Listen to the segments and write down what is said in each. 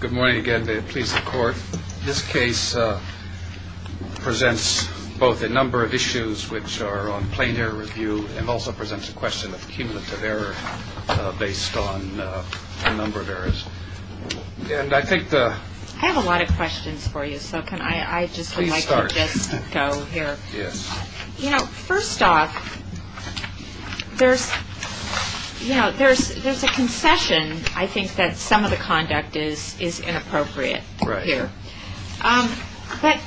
Good morning again. May it please the court. This case presents both a number of issues which are on plain air review and also presents a question of cumulative error based on a number of errors. I have a lot of questions for you so can I just go here. First off, there's a concession I think that some of the conduct is inappropriate here. But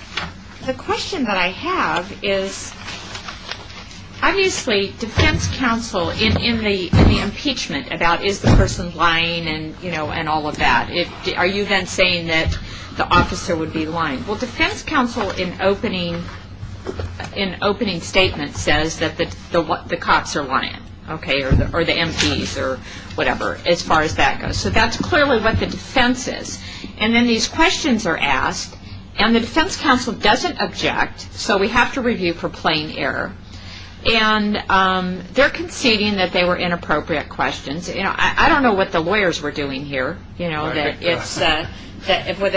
the question that I have is obviously defense counsel in the impeachment about is the person lying and all of that. Are you then saying that the officer would be lying? Well, defense counsel in opening statement says that the cops are lying or the MPs or whatever as far as that goes. So that's clearly what the defense is. And then these questions are asked and the defense counsel doesn't object so we have to review for plain error. And they're conceding that they were inappropriate questions. I don't know what the lawyers were doing here. Whether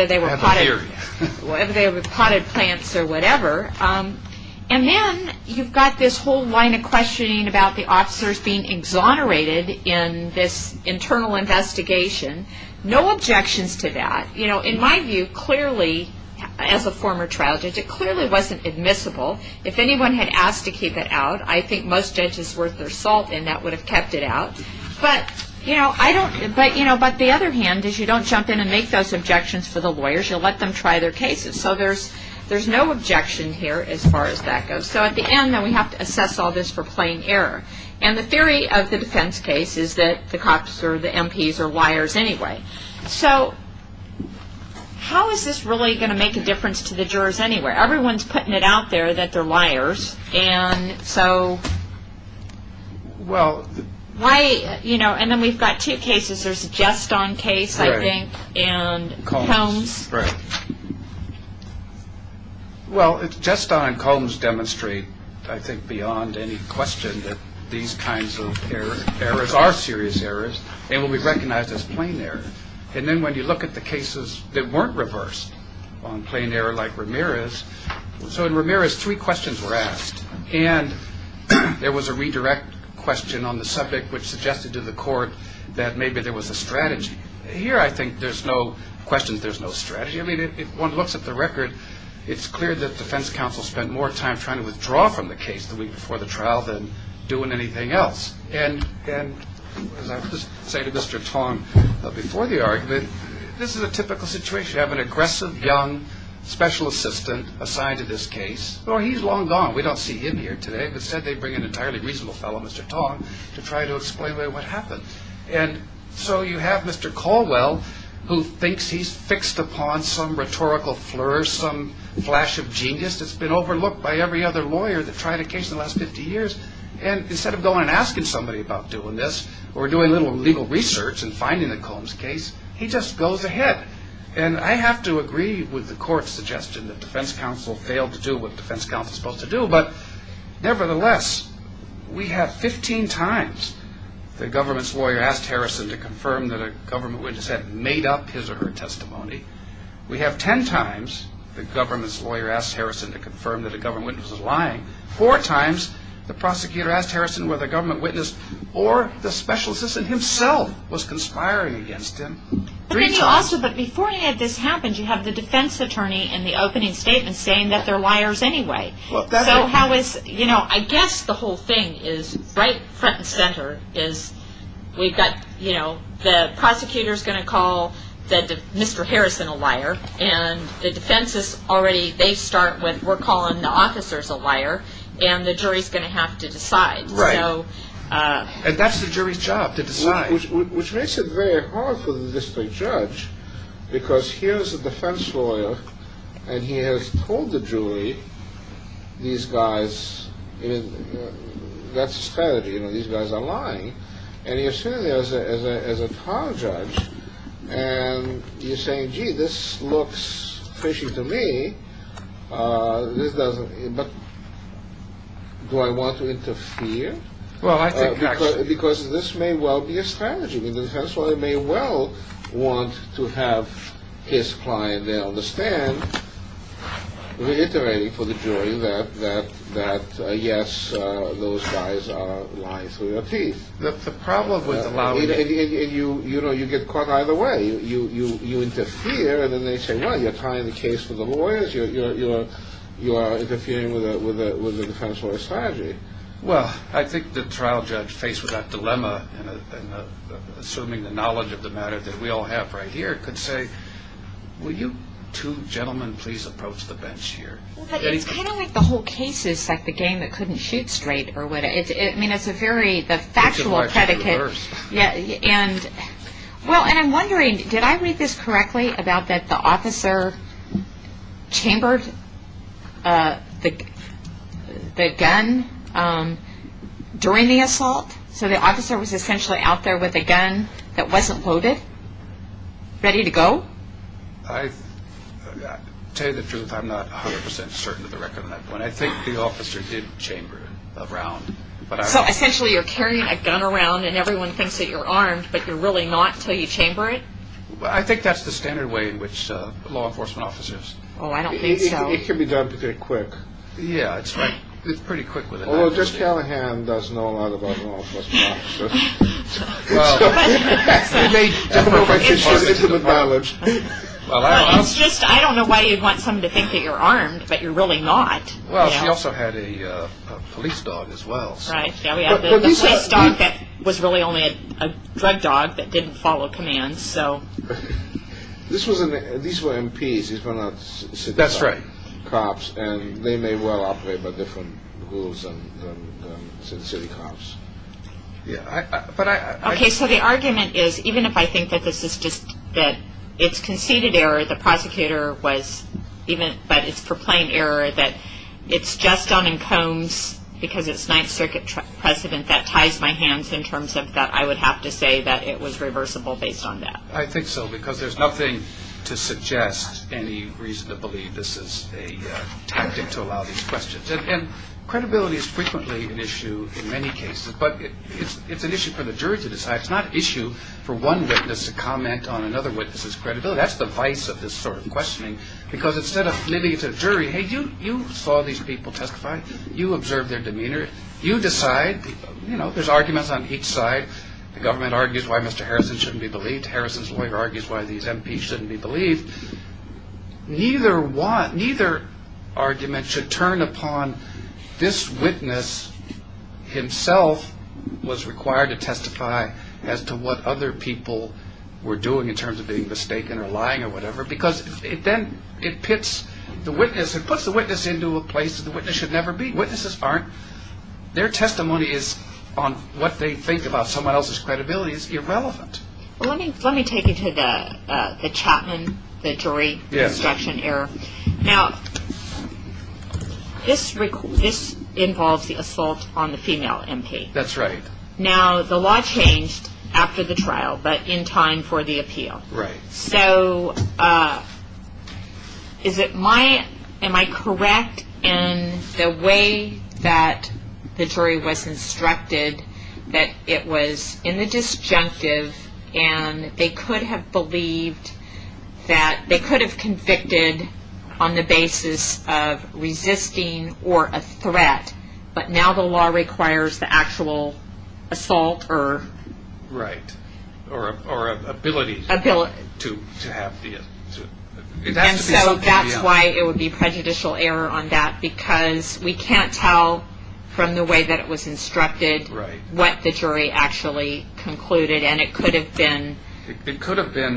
they were potted plants or whatever. And then you've got this whole line of questioning about the officers being exonerated in this internal investigation. No objections to that. In my view, clearly as a former trial judge, it clearly wasn't admissible. If anyone had asked to keep it out, I think most judges worth their salt in that would have kept it out. But the other hand is you don't jump in and make those objections for the lawyers. You'll let them try their cases. So there's no objection here as far as that goes. So at the end we have to assess all this for plain error. And the theory of the defense case is that the cops or the MPs are liars anyway. So how is this really going to make a difference to the jurors anyway? Everyone's putting it out there that they're liars. And then we've got two cases. There's a just on case, I think, and Combs. Well, it's just on Combs demonstrate, I think, beyond any question that these kinds of errors are serious errors and will be recognized as plain error. And then when you look at the cases that weren't reversed on plain error like Ramirez. So in Ramirez, three questions were asked. And there was a redirect question on the subject, which suggested to the court that maybe there was a strategy here. I think there's no questions. There's no strategy. I mean, if one looks at the record, it's clear that defense counsel spent more time trying to withdraw from the case the week before the trial than doing anything else. And as I was saying to Mr. Tong before the argument, this is a typical situation. You have an aggressive, young special assistant assigned to this case. He's long gone. We don't see him here today. Instead, they bring an entirely reasonable fellow, Mr. Tong, to try to explain what happened. And so you have Mr. Caldwell, who thinks he's fixed upon some rhetorical flirt, some flash of genius that's been overlooked by every other lawyer that tried a case in the last 50 years. And instead of going and asking somebody about doing this or doing a little legal research and finding the Combs case, he just goes ahead. And I have to agree with the court's suggestion that defense counsel failed to do what defense counsel is supposed to do. But nevertheless, we have 15 times the government's lawyer asked Harrison to confirm that a government witness had made up his or her testimony. We have 10 times the government's lawyer asked Harrison to confirm that a government witness was lying. Four times the prosecutor asked Harrison whether the government witness or the special assistant himself was conspiring against him. But then you also, before this happened, you have the defense attorney in the opening statement saying that they're liars anyway. So how is, you know, I guess the whole thing is right front and center, is we've got, you know, the prosecutor's going to call Mr. Harrison a liar, and the defense is already, they start with, we're calling the officers a liar, and the jury's going to have to decide. Right. And that's the jury's job, to decide. Which makes it very hard for the district judge, because here's a defense lawyer, and he has told the jury, these guys, that's a strategy, you know, these guys are lying. And you're sitting there as a trial judge, and you're saying, gee, this looks fishy to me, but do I want to interfere? Because this may well be a strategy. The defense lawyer may well want to have his client there on the stand, reiterating for the jury that, yes, those guys are lying through their teeth. The problem with allowing... And you know, you get caught either way. You interfere, and then they say, well, you're tying the case with the lawyers, you're interfering with the defense lawyer's strategy. Well, I think the trial judge, faced with that dilemma, and assuming the knowledge of the matter that we all have right here, could say, will you two gentlemen please approach the bench here? It's kind of like the whole case is like the game that couldn't shoot straight. I mean, it's a very factual predicate. Well, and I'm wondering, did I read this correctly, about that the officer chambered the gun during the assault? So the officer was essentially out there with a gun that wasn't loaded, ready to go? I'll tell you the truth, I'm not 100% certain of the record on that one. I think the officer did chamber it around. So essentially you're carrying a gun around, and everyone thinks that you're armed, but you're really not until you chamber it? I think that's the standard way in which law enforcement officers... Oh, I don't think so. It can be done pretty quick. Yeah, that's right. It's pretty quick with an officer. Although Judge Callahan does know a lot about law enforcement officers. Well, it's just, I don't know why you'd want someone to think that you're armed, but you're really not. Well, she also had a police dog as well. Right, yeah, the police dog was really only a drug dog that didn't follow commands, so... These were MPs, these were not city cops. That's right. And they may well operate by different rules than city cops. Yeah, but I... Okay, so the argument is, even if I think that this is just, that it's conceded error, the prosecutor was, but it's proclaimed error, that it's just done in combs because it's Ninth Circuit precedent, that ties my hands in terms of that I would have to say that it was reversible based on that. I think so, because there's nothing to suggest any reason to believe this is a tactic to allow these questions. And credibility is frequently an issue in many cases, but it's an issue for the jury to decide. It's not an issue for one witness to comment on another witness's credibility. That's the vice of this sort of questioning, because instead of living to a jury, hey, you saw these people testify, you observed their demeanor, you decide, you know, there's arguments on each side. The government argues why Mr. Harrison shouldn't be believed. Harrison's lawyer argues why these MPs shouldn't be believed. Neither argument should turn upon this witness himself was required to testify as to what other people were doing in terms of being mistaken or lying or whatever, because then it puts the witness into a place that the witness should never be. Witnesses aren't. Their testimony on what they think about someone else's credibility is irrelevant. Well, let me take you to the Chapman, the jury instruction error. Now, this involves the assault on the female MP. That's right. Now, the law changed after the trial, but in time for the appeal. Right. So, is it my, am I correct in the way that the jury was instructed that it was in the disjunctive and they could have believed that, they could have convicted on the basis of resisting or a threat, but now the law requires the actual assault or... Right, or ability to have the... And so that's why it would be prejudicial error on that, because we can't tell from the way that it was instructed what the jury actually concluded, and it could have been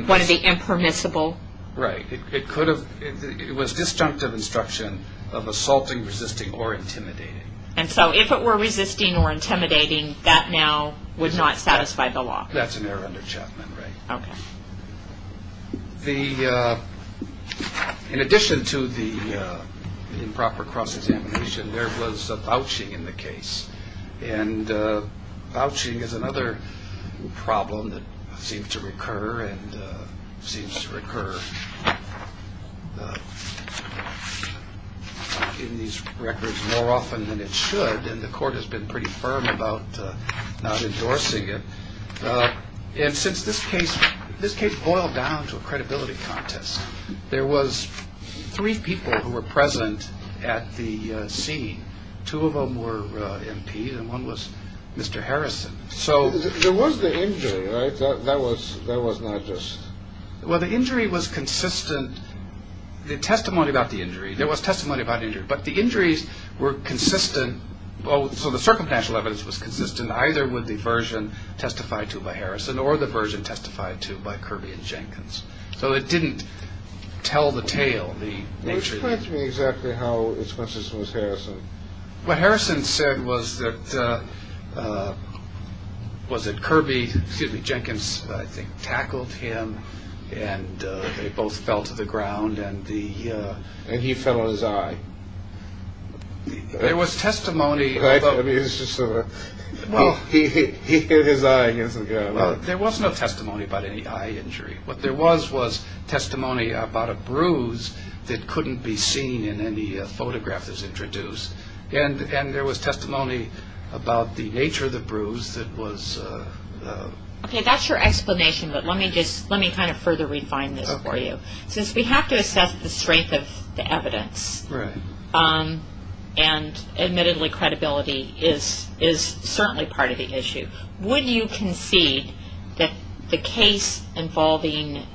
one of the impermissible... Right, it could have, it was disjunctive instruction of assaulting, resisting, or intimidating. And so if it were resisting or intimidating, that now would not satisfy the law. That's an error under Chapman, right. Okay. The, in addition to the improper cross-examination, there was a vouching in the case, and vouching is another problem that seems to recur and seems to recur in these records more often than it should, and the court has been pretty firm about not endorsing it. And since this case, this case boiled down to a credibility contest. There was three people who were present at the scene. Two of them were MPs and one was Mr. Harrison. So... There was the injury, right? That was not just... Well, the injury was consistent. The testimony about the injury, there was testimony about injury, but the injuries were consistent, so the circumstantial evidence was consistent either with the version testified to by Harrison or the version testified to by Kirby and Jenkins. So it didn't tell the tale. Which points me exactly how expensive it was Harrison. What Harrison said was that Kirby, excuse me, Jenkins, I think, tackled him, and they both fell to the ground, and the... And he fell on his eye. There was testimony about... I mean, it's just sort of... He hit his eye against the ground. Well, there was no testimony about any eye injury. What there was was testimony about a bruise that couldn't be seen in any photograph that's introduced, and there was testimony about the nature of the bruise that was... Okay, that's your explanation, but let me kind of further refine this for you. Since we have to assess the strength of the evidence, and admittedly credibility is certainly part of the issue, would you concede that the case involving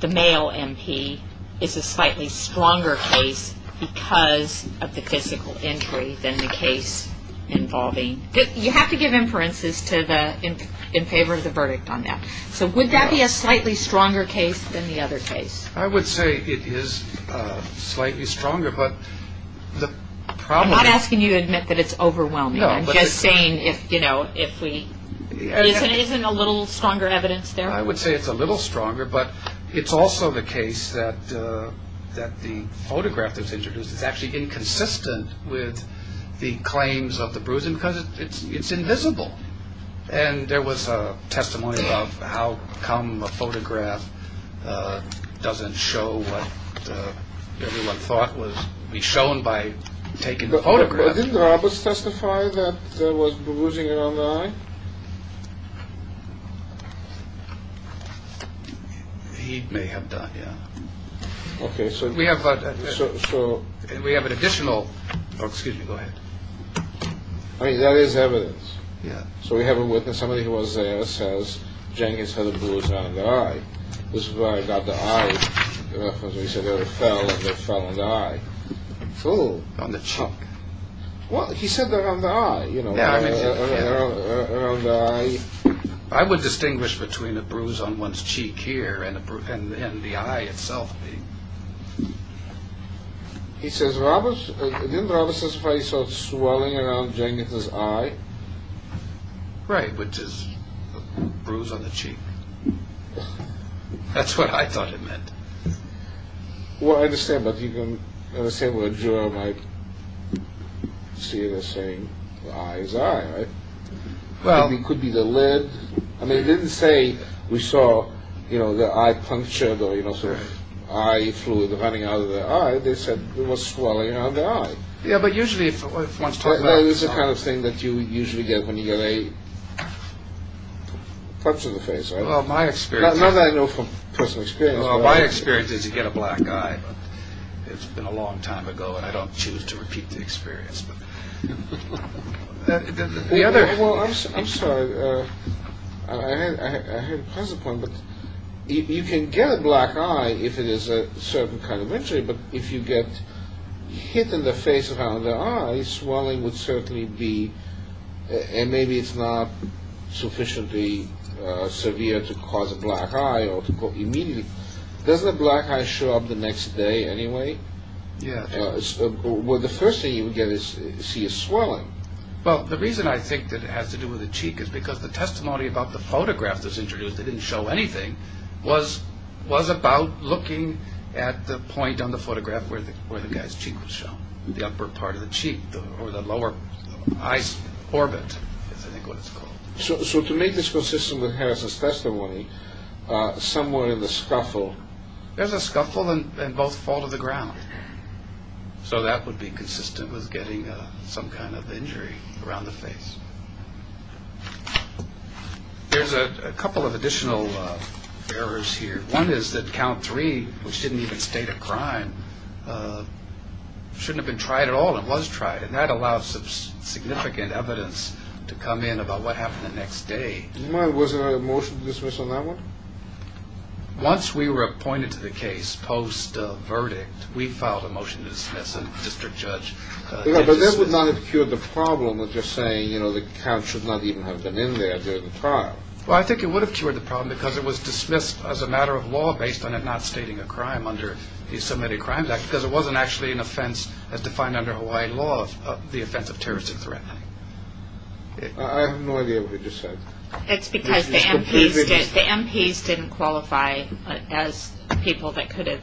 the male MP is a slightly stronger case because of the physical injury than the case involving... You have to give inferences in favor of the verdict on that. So would that be a slightly stronger case than the other case? I would say it is slightly stronger, but the problem is... I'm not asking you to admit that it's overwhelming. I'm just saying, you know, if we... Isn't a little stronger evidence there? I would say it's a little stronger, but it's also the case that the photograph that's introduced is actually inconsistent with the claims of the bruising because it's invisible. And there was testimony about how come a photograph doesn't show what everyone thought would be shown by taking the photograph. Didn't Roberts testify that there was bruising around the eye? He may have done, yeah. Okay, so... We have an additional... Oh, excuse me, go ahead. I mean, that is evidence. Yeah. So we have a witness, somebody who was there, says, Jenkins had a bruise around the eye. This is where I got the eye reference. He said that it fell, and it fell on the eye. It fell? On the cheek. Well, he said around the eye, you know. Yeah, I mean... Around the eye. I would distinguish between a bruise on one's cheek here and the eye itself being... He says Roberts... Didn't Roberts testify he saw swelling around Jenkins' eye? Right, which is a bruise on the cheek. That's what I thought it meant. Well, I understand, but you can understand where a juror might see the same eye as eye, right? Well... It could be the lid. I mean, it didn't say we saw, you know, the eye punctured or, you know, some eye fluid running out of the eye. They said there was swelling around the eye. Yeah, but usually if one's talking about... It's the kind of thing that you usually get when you get a punch in the face, right? Well, my experience... Not that I know from personal experience, but... Well, my experience is you get a black eye, but it's been a long time ago and I don't choose to repeat the experience, but... The other... Well, I'm sorry. I had to pass the point, but you can get a black eye if it is a certain kind of injury, but if you get hit in the face around the eye, swelling would certainly be... And maybe it's not sufficiently severe to cause a black eye or to go immediately... Doesn't a black eye show up the next day anyway? Yeah. Well, the first thing you would get is to see a swelling. Well, the reason I think that it has to do with the cheek is because the testimony about the photograph that's introduced that didn't show anything was about looking at the point on the photograph where the guy's cheek was shown, the upper part of the cheek or the lower eye's orbit, I think that's what it's called. So to make this consistent with Harris's testimony, somewhere in the scuffle... There's a scuffle and both fall to the ground. So that would be consistent with getting some kind of injury around the face. There's a couple of additional errors here. One is that count three, which didn't even state a crime, shouldn't have been tried at all and was tried, and that allows some significant evidence to come in about what happened the next day. Do you mind, was there a motion to dismiss on that one? Once we were appointed to the case post-verdict, we filed a motion to dismiss, and the district judge did dismiss. But that would not have cured the problem of just saying, you know, the count should not even have been in there during the trial. Well, I think it would have cured the problem because it was dismissed as a matter of law based on it not stating a crime under the Submitted Crimes Act because it wasn't actually an offense as defined under Hawaii law, the offense of terrorist threat. I have no idea what you just said. That's because the MPs didn't qualify as people that could have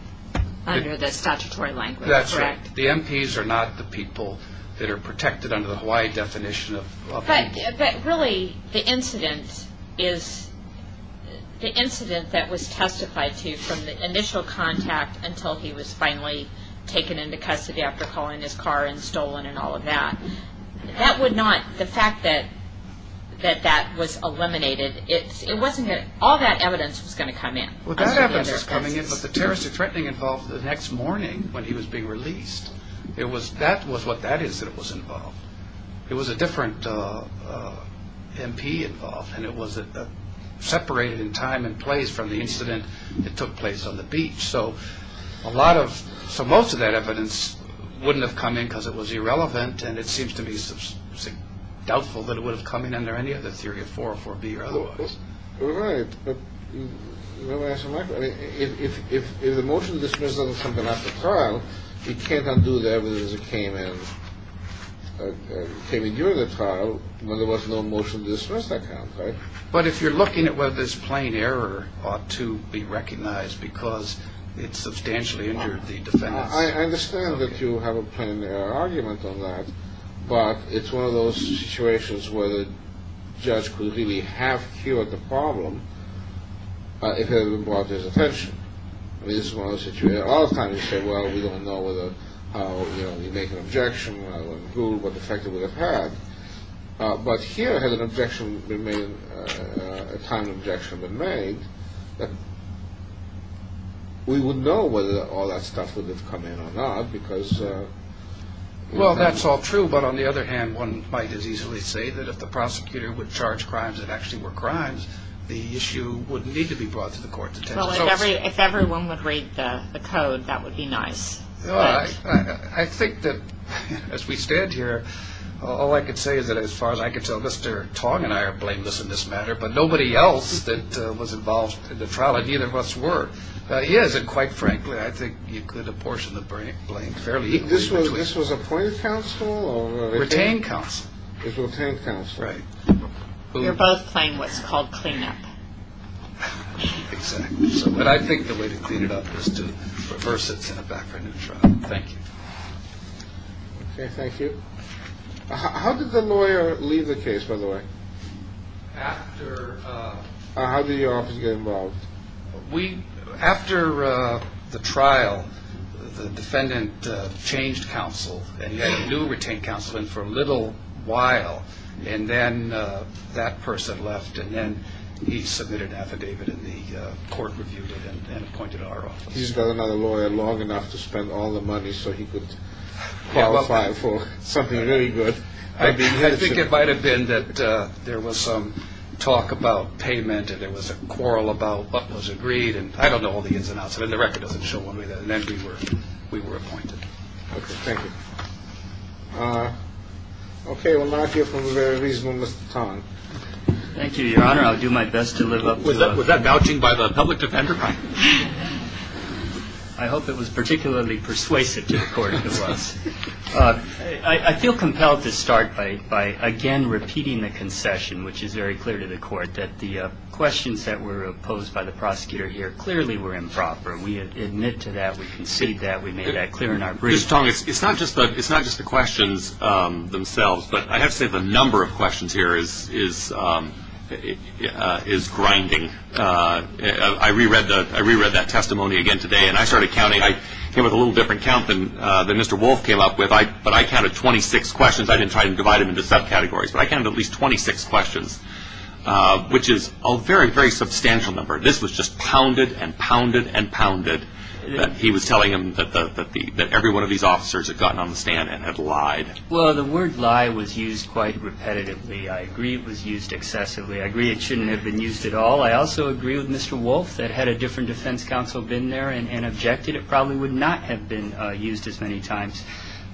under the statutory language, correct? That's right. The MPs are not the people that are protected under the Hawaii definition of law. But really the incident that was testified to from the initial contact until he was finally taken into custody after calling his car and stolen and all of that, that would not, the fact that that was eliminated, it wasn't that all that evidence was going to come in. Well, that evidence was coming in, but the terrorist threatening involved the next morning when he was being released, that was what that is that was involved. It was a different MP involved, and it was separated in time and place from the incident that took place on the beach. So a lot of, so most of that evidence wouldn't have come in because it was irrelevant and it seems to me doubtful that it would have come in under any other theory of 404B or otherwise. Right. If the motion to dismiss doesn't come to the trial, you can't undo the evidence that came in during the trial when there was no motion to dismiss that count, right? But if you're looking at whether this plain error ought to be recognized because it substantially injured the defense. I understand that you have a plain error argument on that, but it's one of those situations where the judge could really have cured the problem if it had been brought to his attention. I mean, this is one of those situations where a lot of times you say, well, we don't know whether, you know, you make an objection, rather than Google what effect it would have had, but here had an objection been made, a time of objection been made, we would know whether all that stuff would have come in or not because Well, that's all true, but on the other hand, one might as easily say that if the prosecutor would charge crimes that actually were crimes, the issue wouldn't need to be brought to the court's attention. Well, if everyone would read the code, that would be nice. I think that as we stand here, all I can say is that as far as I can tell, Mr. Tong and I are blameless in this matter, but nobody else that was involved in the trial, and neither of us were, is. And quite frankly, I think you could apportion the blame fairly equally between the two. This was appointed counsel? Retained counsel. It was retained counsel, right. You're both playing what's called clean up. Exactly. But I think the way to clean it up is to reverse it and send it back for a new trial. Thank you. Okay, thank you. How did the lawyer leave the case, by the way? After... How did your office get involved? After the trial, the defendant changed counsel, and he had a new retained counsel, and for a little while, and then that person left, and then he submitted an affidavit and the court reviewed it and appointed our office. He's got another lawyer long enough to spend all the money so he could qualify for something really good. I think it might have been that there was some talk about payment and there was a quarrel about what was agreed, and I don't know all the ins and outs, and the record doesn't show one way or the other, and then we were appointed. Okay, thank you. Okay, we'll now hear from a very reasonable Mr. Tong. Thank you, Your Honor. I'll do my best to live up to... Was that vouching by the public defender? I hope it was particularly persuasive to the court, it was. I feel compelled to start by, again, repeating the concession, which is very clear to the court that the questions that were posed by the prosecutor here clearly were improper. We admit to that. We concede that. We made that clear in our brief. Mr. Tong, it's not just the questions themselves, but I have to say the number of questions here is grinding. I reread that testimony again today, and I started counting. I came up with a little different count than Mr. Wolf came up with, but I counted 26 questions. I didn't try to divide them into subcategories, but I counted at least 26 questions, which is a very, very substantial number. This was just pounded and pounded and pounded that he was telling him that every one of these officers had gotten on the stand and had lied. Well, the word lie was used quite repetitively. I agree it was used excessively. I agree it shouldn't have been used at all. I also agree with Mr. Wolf that had a different defense counsel been there and objected, it probably would not have been used as many times.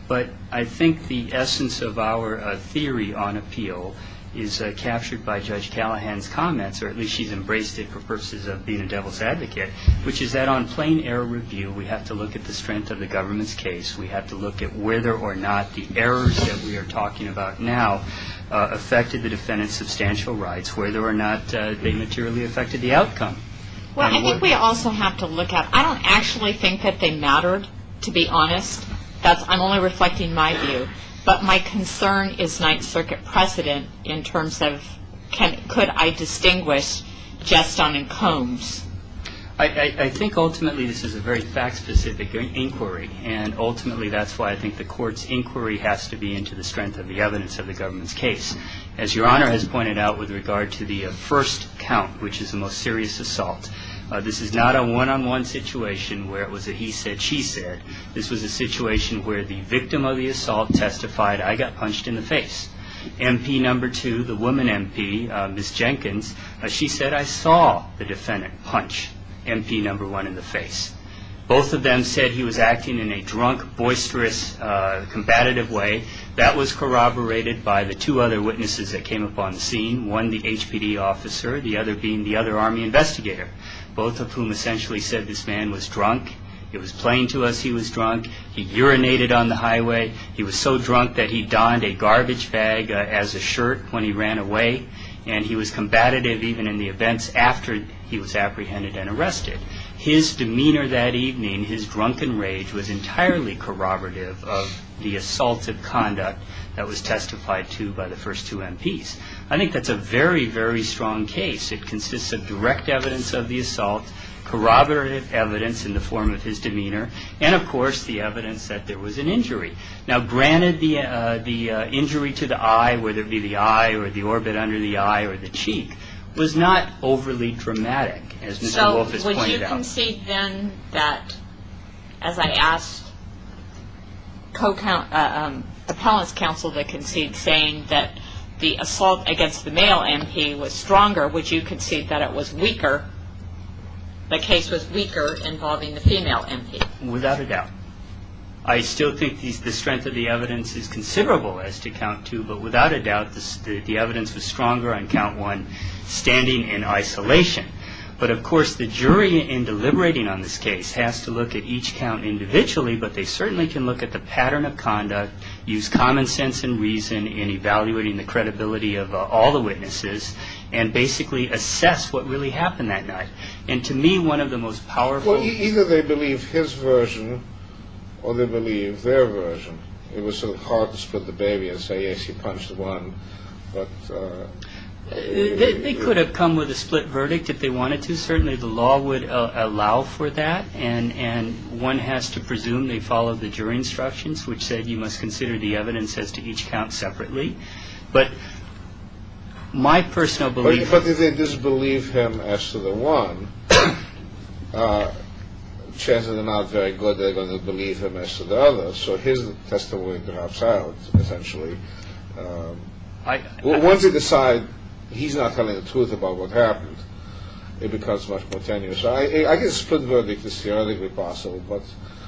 But I think the essence of our theory on appeal is captured by Judge Callahan's comments, or at least she's embraced it for purposes of being a devil's advocate, which is that on plain error review, we have to look at the strength of the government's case. We have to look at whether or not the errors that we are talking about now affected the defendant's substantial rights, whether or not they materially affected the outcome. Well, I think we also have to look at, I don't actually think that they mattered, to be honest. That's only reflecting my view. But my concern is Ninth Circuit precedent in terms of could I distinguish jest on and combs. I think ultimately this is a very fact-specific inquiry, and ultimately that's why I think the Court's inquiry has to be into the strength of the evidence of the government's case. As Your Honor has pointed out with regard to the first count, which is the most serious assault, this is not a one-on-one situation where it was a he said, she said. This was a situation where the victim of the assault testified, I got punched in the face. MP No. 2, the woman MP, Ms. Jenkins, she said, I saw the defendant punch MP No. 1 in the face. Both of them said he was acting in a drunk, boisterous, combative way. That was corroborated by the two other witnesses that came upon the scene, one the HPD officer, the other being the other Army investigator, both of whom essentially said this man was drunk. It was plain to us he was drunk. He urinated on the highway. He was so drunk that he donned a garbage bag as a shirt when he ran away, and he was combative even in the events after he was apprehended and arrested. His demeanor that evening, his drunken rage, was entirely corroborative of the assaultive conduct that was testified to by the first two MPs. I think that's a very, very strong case. It consists of direct evidence of the assault, corroborative evidence in the form of his demeanor, and, of course, the evidence that there was an injury. Now, granted, the injury to the eye, whether it be the eye or the orbit under the eye or the cheek, was not overly dramatic, as Mr. Wolfe has pointed out. So would you concede then that, as I asked the appellant's counsel to concede, saying that the assault against the male MP was stronger, would you concede that it was weaker, the case was weaker involving the female MP? Without a doubt. I still think the strength of the evidence is considerable as to count two, but without a doubt the evidence was stronger on count one, standing in isolation. But, of course, the jury in deliberating on this case has to look at each count individually, but they certainly can look at the pattern of conduct, use common sense and reason in evaluating the credibility of all the witnesses, and basically assess what really happened that night. And to me, one of the most powerful- Well, either they believe his version or they believe their version. It was sort of hard to split the baby and say, yes, he punched one, but- They could have come with a split verdict if they wanted to. Well, certainly the law would allow for that, and one has to presume they followed the jury instructions, which said you must consider the evidence as to each count separately. But my personal belief- But if they disbelieve him as to the one, chances are not very good they're going to believe him as to the other. So here's the testimony to have silence, essentially. Once they decide he's not telling the truth about what happened, it becomes much more tenuous. I guess split verdict is the only way possible, but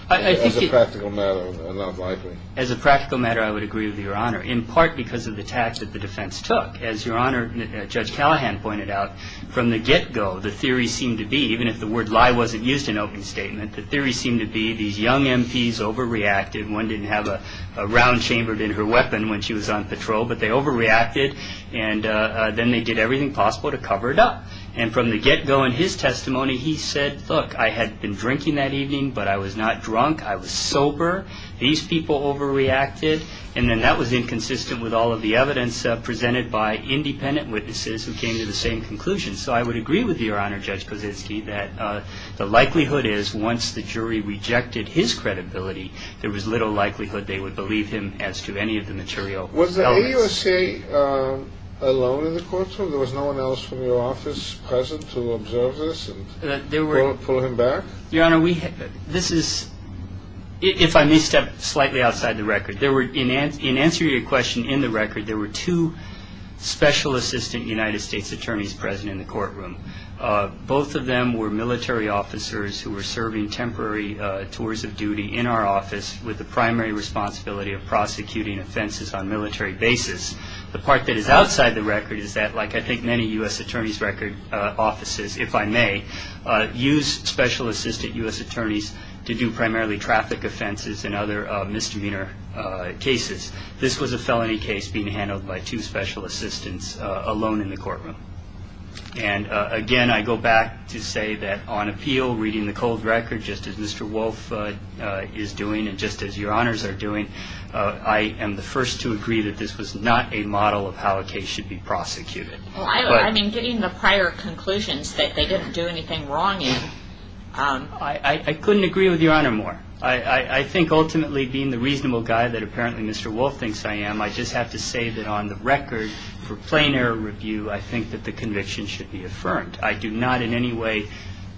as a practical matter, not likely. As a practical matter, I would agree with Your Honor, in part because of the tact that the defense took. As Your Honor, Judge Callahan pointed out, from the get-go, the theory seemed to be, even if the word lie wasn't used in open statement, the theory seemed to be these young MPs overreacted, and one didn't have a round chambered in her weapon when she was on patrol, but they overreacted. And then they did everything possible to cover it up. And from the get-go in his testimony, he said, look, I had been drinking that evening, but I was not drunk. I was sober. These people overreacted. And then that was inconsistent with all of the evidence presented by independent witnesses who came to the same conclusion. So I would agree with Your Honor, Judge Kozinski, that the likelihood is once the jury rejected his credibility, there was little likelihood they would believe him as to any of the material evidence. Was the AUSA alone in the courtroom? There was no one else from your office present to observe this and pull him back? Your Honor, this is, if I may step slightly outside the record, in answer to your question in the record, there were two special assistant United States attorneys present in the courtroom. Both of them were military officers who were serving temporary tours of duty in our office with the primary responsibility of prosecuting offenses on military basis. The part that is outside the record is that, like I think many U.S. attorney's record offices, if I may, use special assistant U.S. attorneys to do primarily traffic offenses and other misdemeanor cases. This was a felony case being handled by two special assistants alone in the courtroom. And again, I go back to say that on appeal, reading the cold record, just as Mr. Wolfe is doing and just as Your Honors are doing, I am the first to agree that this was not a model of how a case should be prosecuted. Well, I mean, getting the prior conclusions that they didn't do anything wrong in. I couldn't agree with Your Honor more. I think ultimately, being the reasonable guy that apparently Mr. Wolfe thinks I am, I just have to say that on the record, for plain error review, I think that the conviction should be affirmed. I do not in any way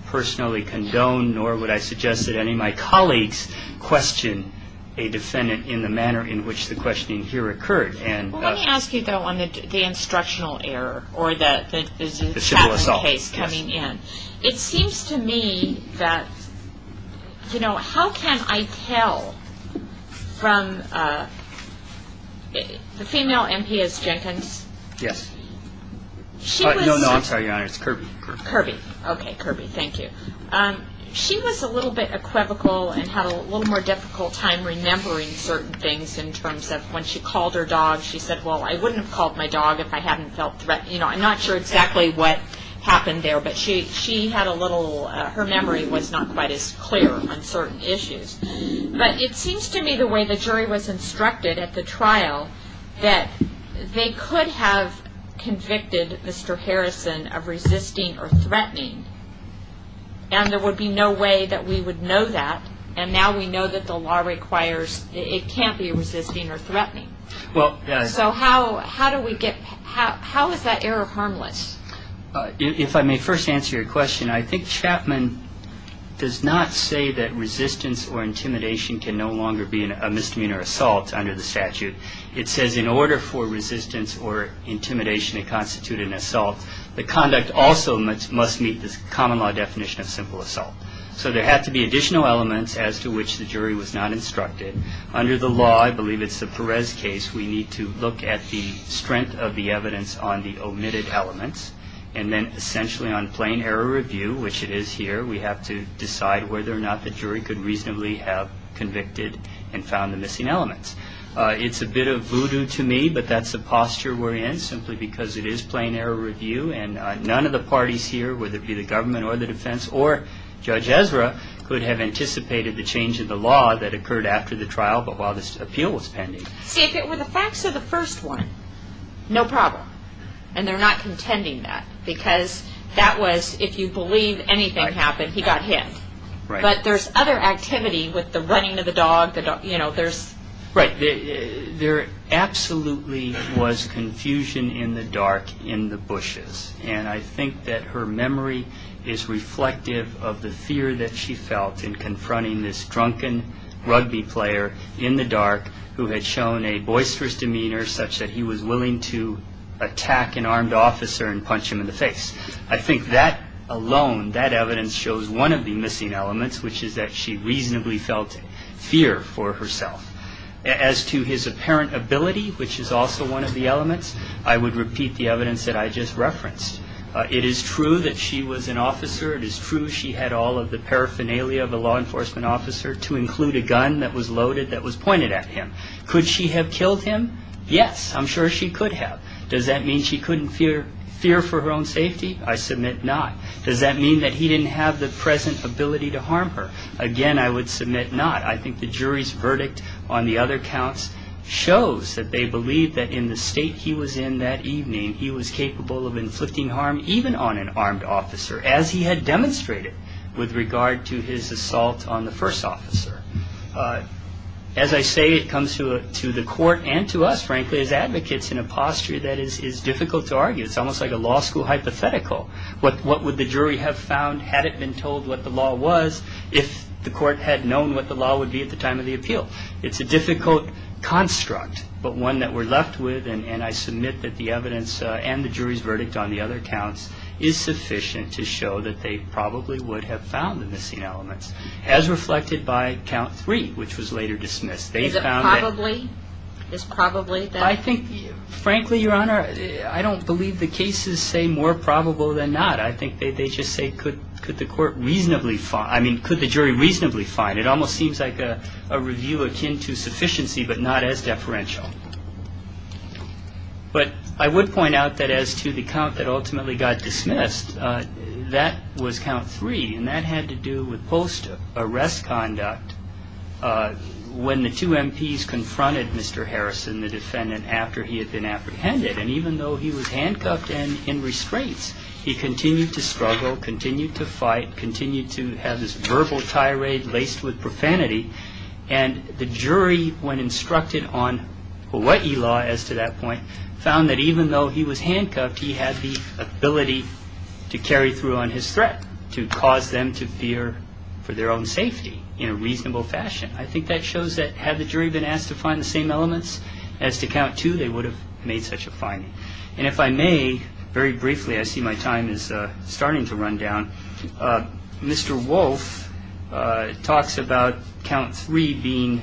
personally condone nor would I suggest that any of my colleagues question a defendant in the manner in which the questioning here occurred. Well, let me ask you, though, on the instructional error or the chapter case coming in. It seems to me that, you know, how can I tell from the female MP as Jenkins? Yes. No, no, I'm sorry, Your Honor. It's Kirby. Kirby. Okay, Kirby. Thank you. She was a little bit equivocal and had a little more difficult time remembering certain things in terms of when she called her dog, she said, well, I wouldn't have called my dog if I hadn't felt threatened. You know, I'm not sure exactly what happened there, but she had a little, her memory was not quite as clear on certain issues. But it seems to me the way the jury was instructed at the trial, that they could have convicted Mr. Harrison of resisting or threatening, and there would be no way that we would know that, and now we know that the law requires it can't be resisting or threatening. So how do we get, how is that error harmless? If I may first answer your question, I think Chapman does not say that resistance or intimidation can no longer be a misdemeanor assault under the statute. It says in order for resistance or intimidation to constitute an assault, the conduct also must meet the common law definition of simple assault. So there had to be additional elements as to which the jury was not instructed. Under the law, I believe it's the Perez case, we need to look at the strength of the evidence on the omitted elements, and then essentially on plain error review, which it is here, we have to decide whether or not the jury could reasonably have convicted and found the missing elements. It's a bit of voodoo to me, but that's the posture we're in, simply because it is plain error review, and none of the parties here, whether it be the government or the defense or Judge Ezra, could have anticipated the change in the law that occurred after the trial, but while this appeal was pending. See, if it were the facts of the first one, no problem, and they're not contending that, because that was, if you believe anything happened, he got hit. Right. But there's other activity with the running of the dog, you know, there's... Right. There absolutely was confusion in the dark in the bushes, and I think that her memory is reflective of the fear that she felt in confronting this drunken rugby player in the dark, who had shown a boisterous demeanor such that he was willing to attack an armed officer and punch him in the face. I think that alone, that evidence shows one of the missing elements, which is that she reasonably felt fear for herself. I would repeat the evidence that I just referenced. It is true that she was an officer. It is true she had all of the paraphernalia of a law enforcement officer, to include a gun that was loaded that was pointed at him. Could she have killed him? Yes, I'm sure she could have. Does that mean she couldn't fear for her own safety? I submit not. Does that mean that he didn't have the present ability to harm her? Again, I would submit not. I think the jury's verdict on the other counts shows that they believe that in the state he was in that evening, he was capable of inflicting harm even on an armed officer, as he had demonstrated with regard to his assault on the first officer. As I say, it comes to the court and to us, frankly, as advocates, in a posture that is difficult to argue. It's almost like a law school hypothetical. What would the jury have found had it been told what the law was if the court had known what the law would be at the time of the appeal? It's a difficult construct, but one that we're left with, and I submit that the evidence and the jury's verdict on the other counts is sufficient to show that they probably would have found the missing elements, as reflected by count three, which was later dismissed. Is it probably? I think, frankly, Your Honor, I don't believe the cases say more probable than not. I think they just say, could the jury reasonably find? It almost seems like a review akin to sufficiency, but not as deferential. But I would point out that as to the count that ultimately got dismissed, that was count three, and that had to do with post-arrest conduct. When the two MPs confronted Mr. Harrison, the defendant, after he had been apprehended, and even though he was handcuffed and in restraints, he continued to struggle, continued to fight, continued to have this verbal tirade laced with profanity, and the jury, when instructed on Hawaii law as to that point, found that even though he was handcuffed, he had the ability to carry through on his threat, to cause them to fear for their own safety in a reasonable fashion. I think that shows that had the jury been asked to find the same elements as to count two, they would have made such a finding. And if I may, very briefly, I see my time is starting to run down. Mr. Wolfe talks about count three being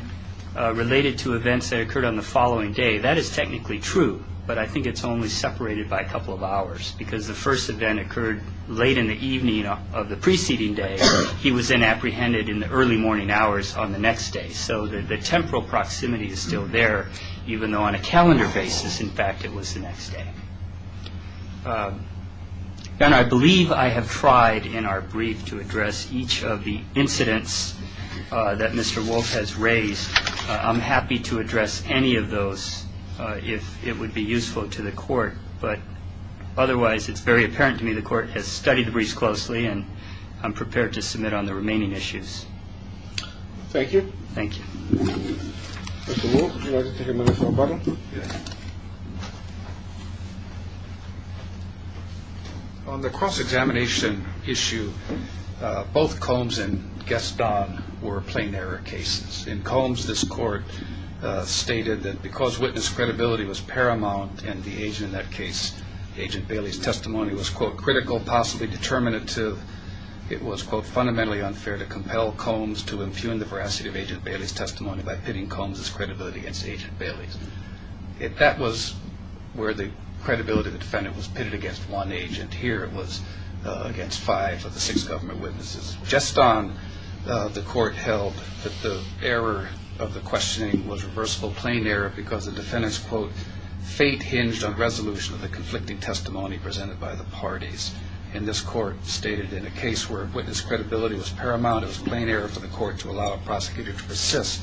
related to events that occurred on the following day. That is technically true, but I think it's only separated by a couple of hours because the first event occurred late in the evening of the preceding day. He was then apprehended in the early morning hours on the next day. So the temporal proximity is still there, even though on a calendar basis, in fact, it was the next day. And I believe I have tried in our brief to address each of the incidents that Mr. Wolfe has raised. I'm happy to address any of those if it would be useful to the court, but otherwise it's very apparent to me the court has studied the briefs closely and I'm prepared to submit on the remaining issues. Thank you. Thank you. Mr. Wolfe, would you like to take a minute for a button? Yes. On the cross-examination issue, both Combs and Gaston were plain error cases. In Combs, this court stated that because witness credibility was paramount and the agent in that case, Agent Bailey's testimony, was, quote, critical, possibly determinative, it was, quote, fundamentally unfair to compel Combs to impugn the veracity of Agent Bailey's testimony by pitting Combs' credibility against Agent Bailey's. If that was where the credibility of the defendant was pitted against one agent, here it was against five of the six government witnesses. Gaston, the court held that the error of the questioning was reversible plain error because the defendant's, quote, fate hinged on resolution of the conflicting testimony presented by the parties. And this court stated in a case where witness credibility was paramount, it was plain error for the court to allow a prosecutor to persist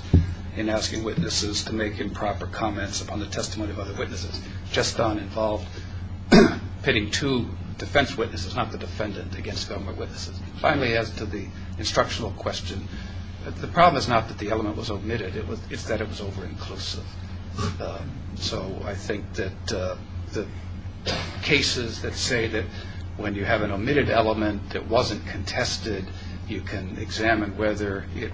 in asking witnesses to make improper comments upon the testimony of other witnesses. Gaston involved pitting two defense witnesses, not the defendant, against government witnesses. Finally, as to the instructional question, the problem is not that the element was omitted. It's that it was over-inclusive. So I think that the cases that say that when you have an omitted element that wasn't contested, you can examine whether it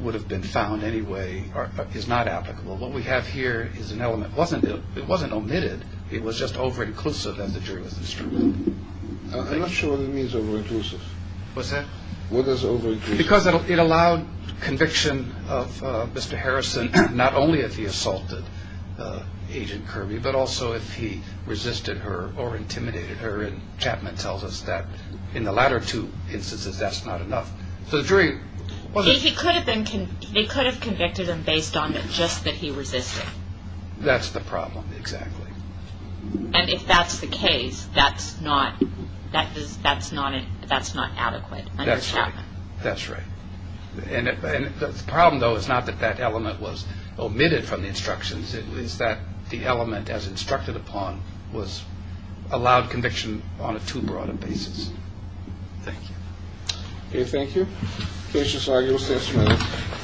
would have been found anyway is not applicable. What we have here is an element. It wasn't omitted. It was just over-inclusive at the jurisdiction. I'm not sure what it means over-inclusive. What's that? What does over-inclusive mean? Because it allowed conviction of Mr. Harrison not only if he assaulted Agent Kirby, but also if he resisted her or intimidated her, and Chapman tells us that in the latter two instances that's not enough. So the jury... He could have convicted him based on just that he resisted. That's the problem, exactly. That's right. That's right. And the problem, though, is not that that element was omitted from the instructions. It's that the element, as instructed upon, was allowed conviction on a too broad a basis. Thank you. Okay, thank you. Case resolved. You'll stay a minute.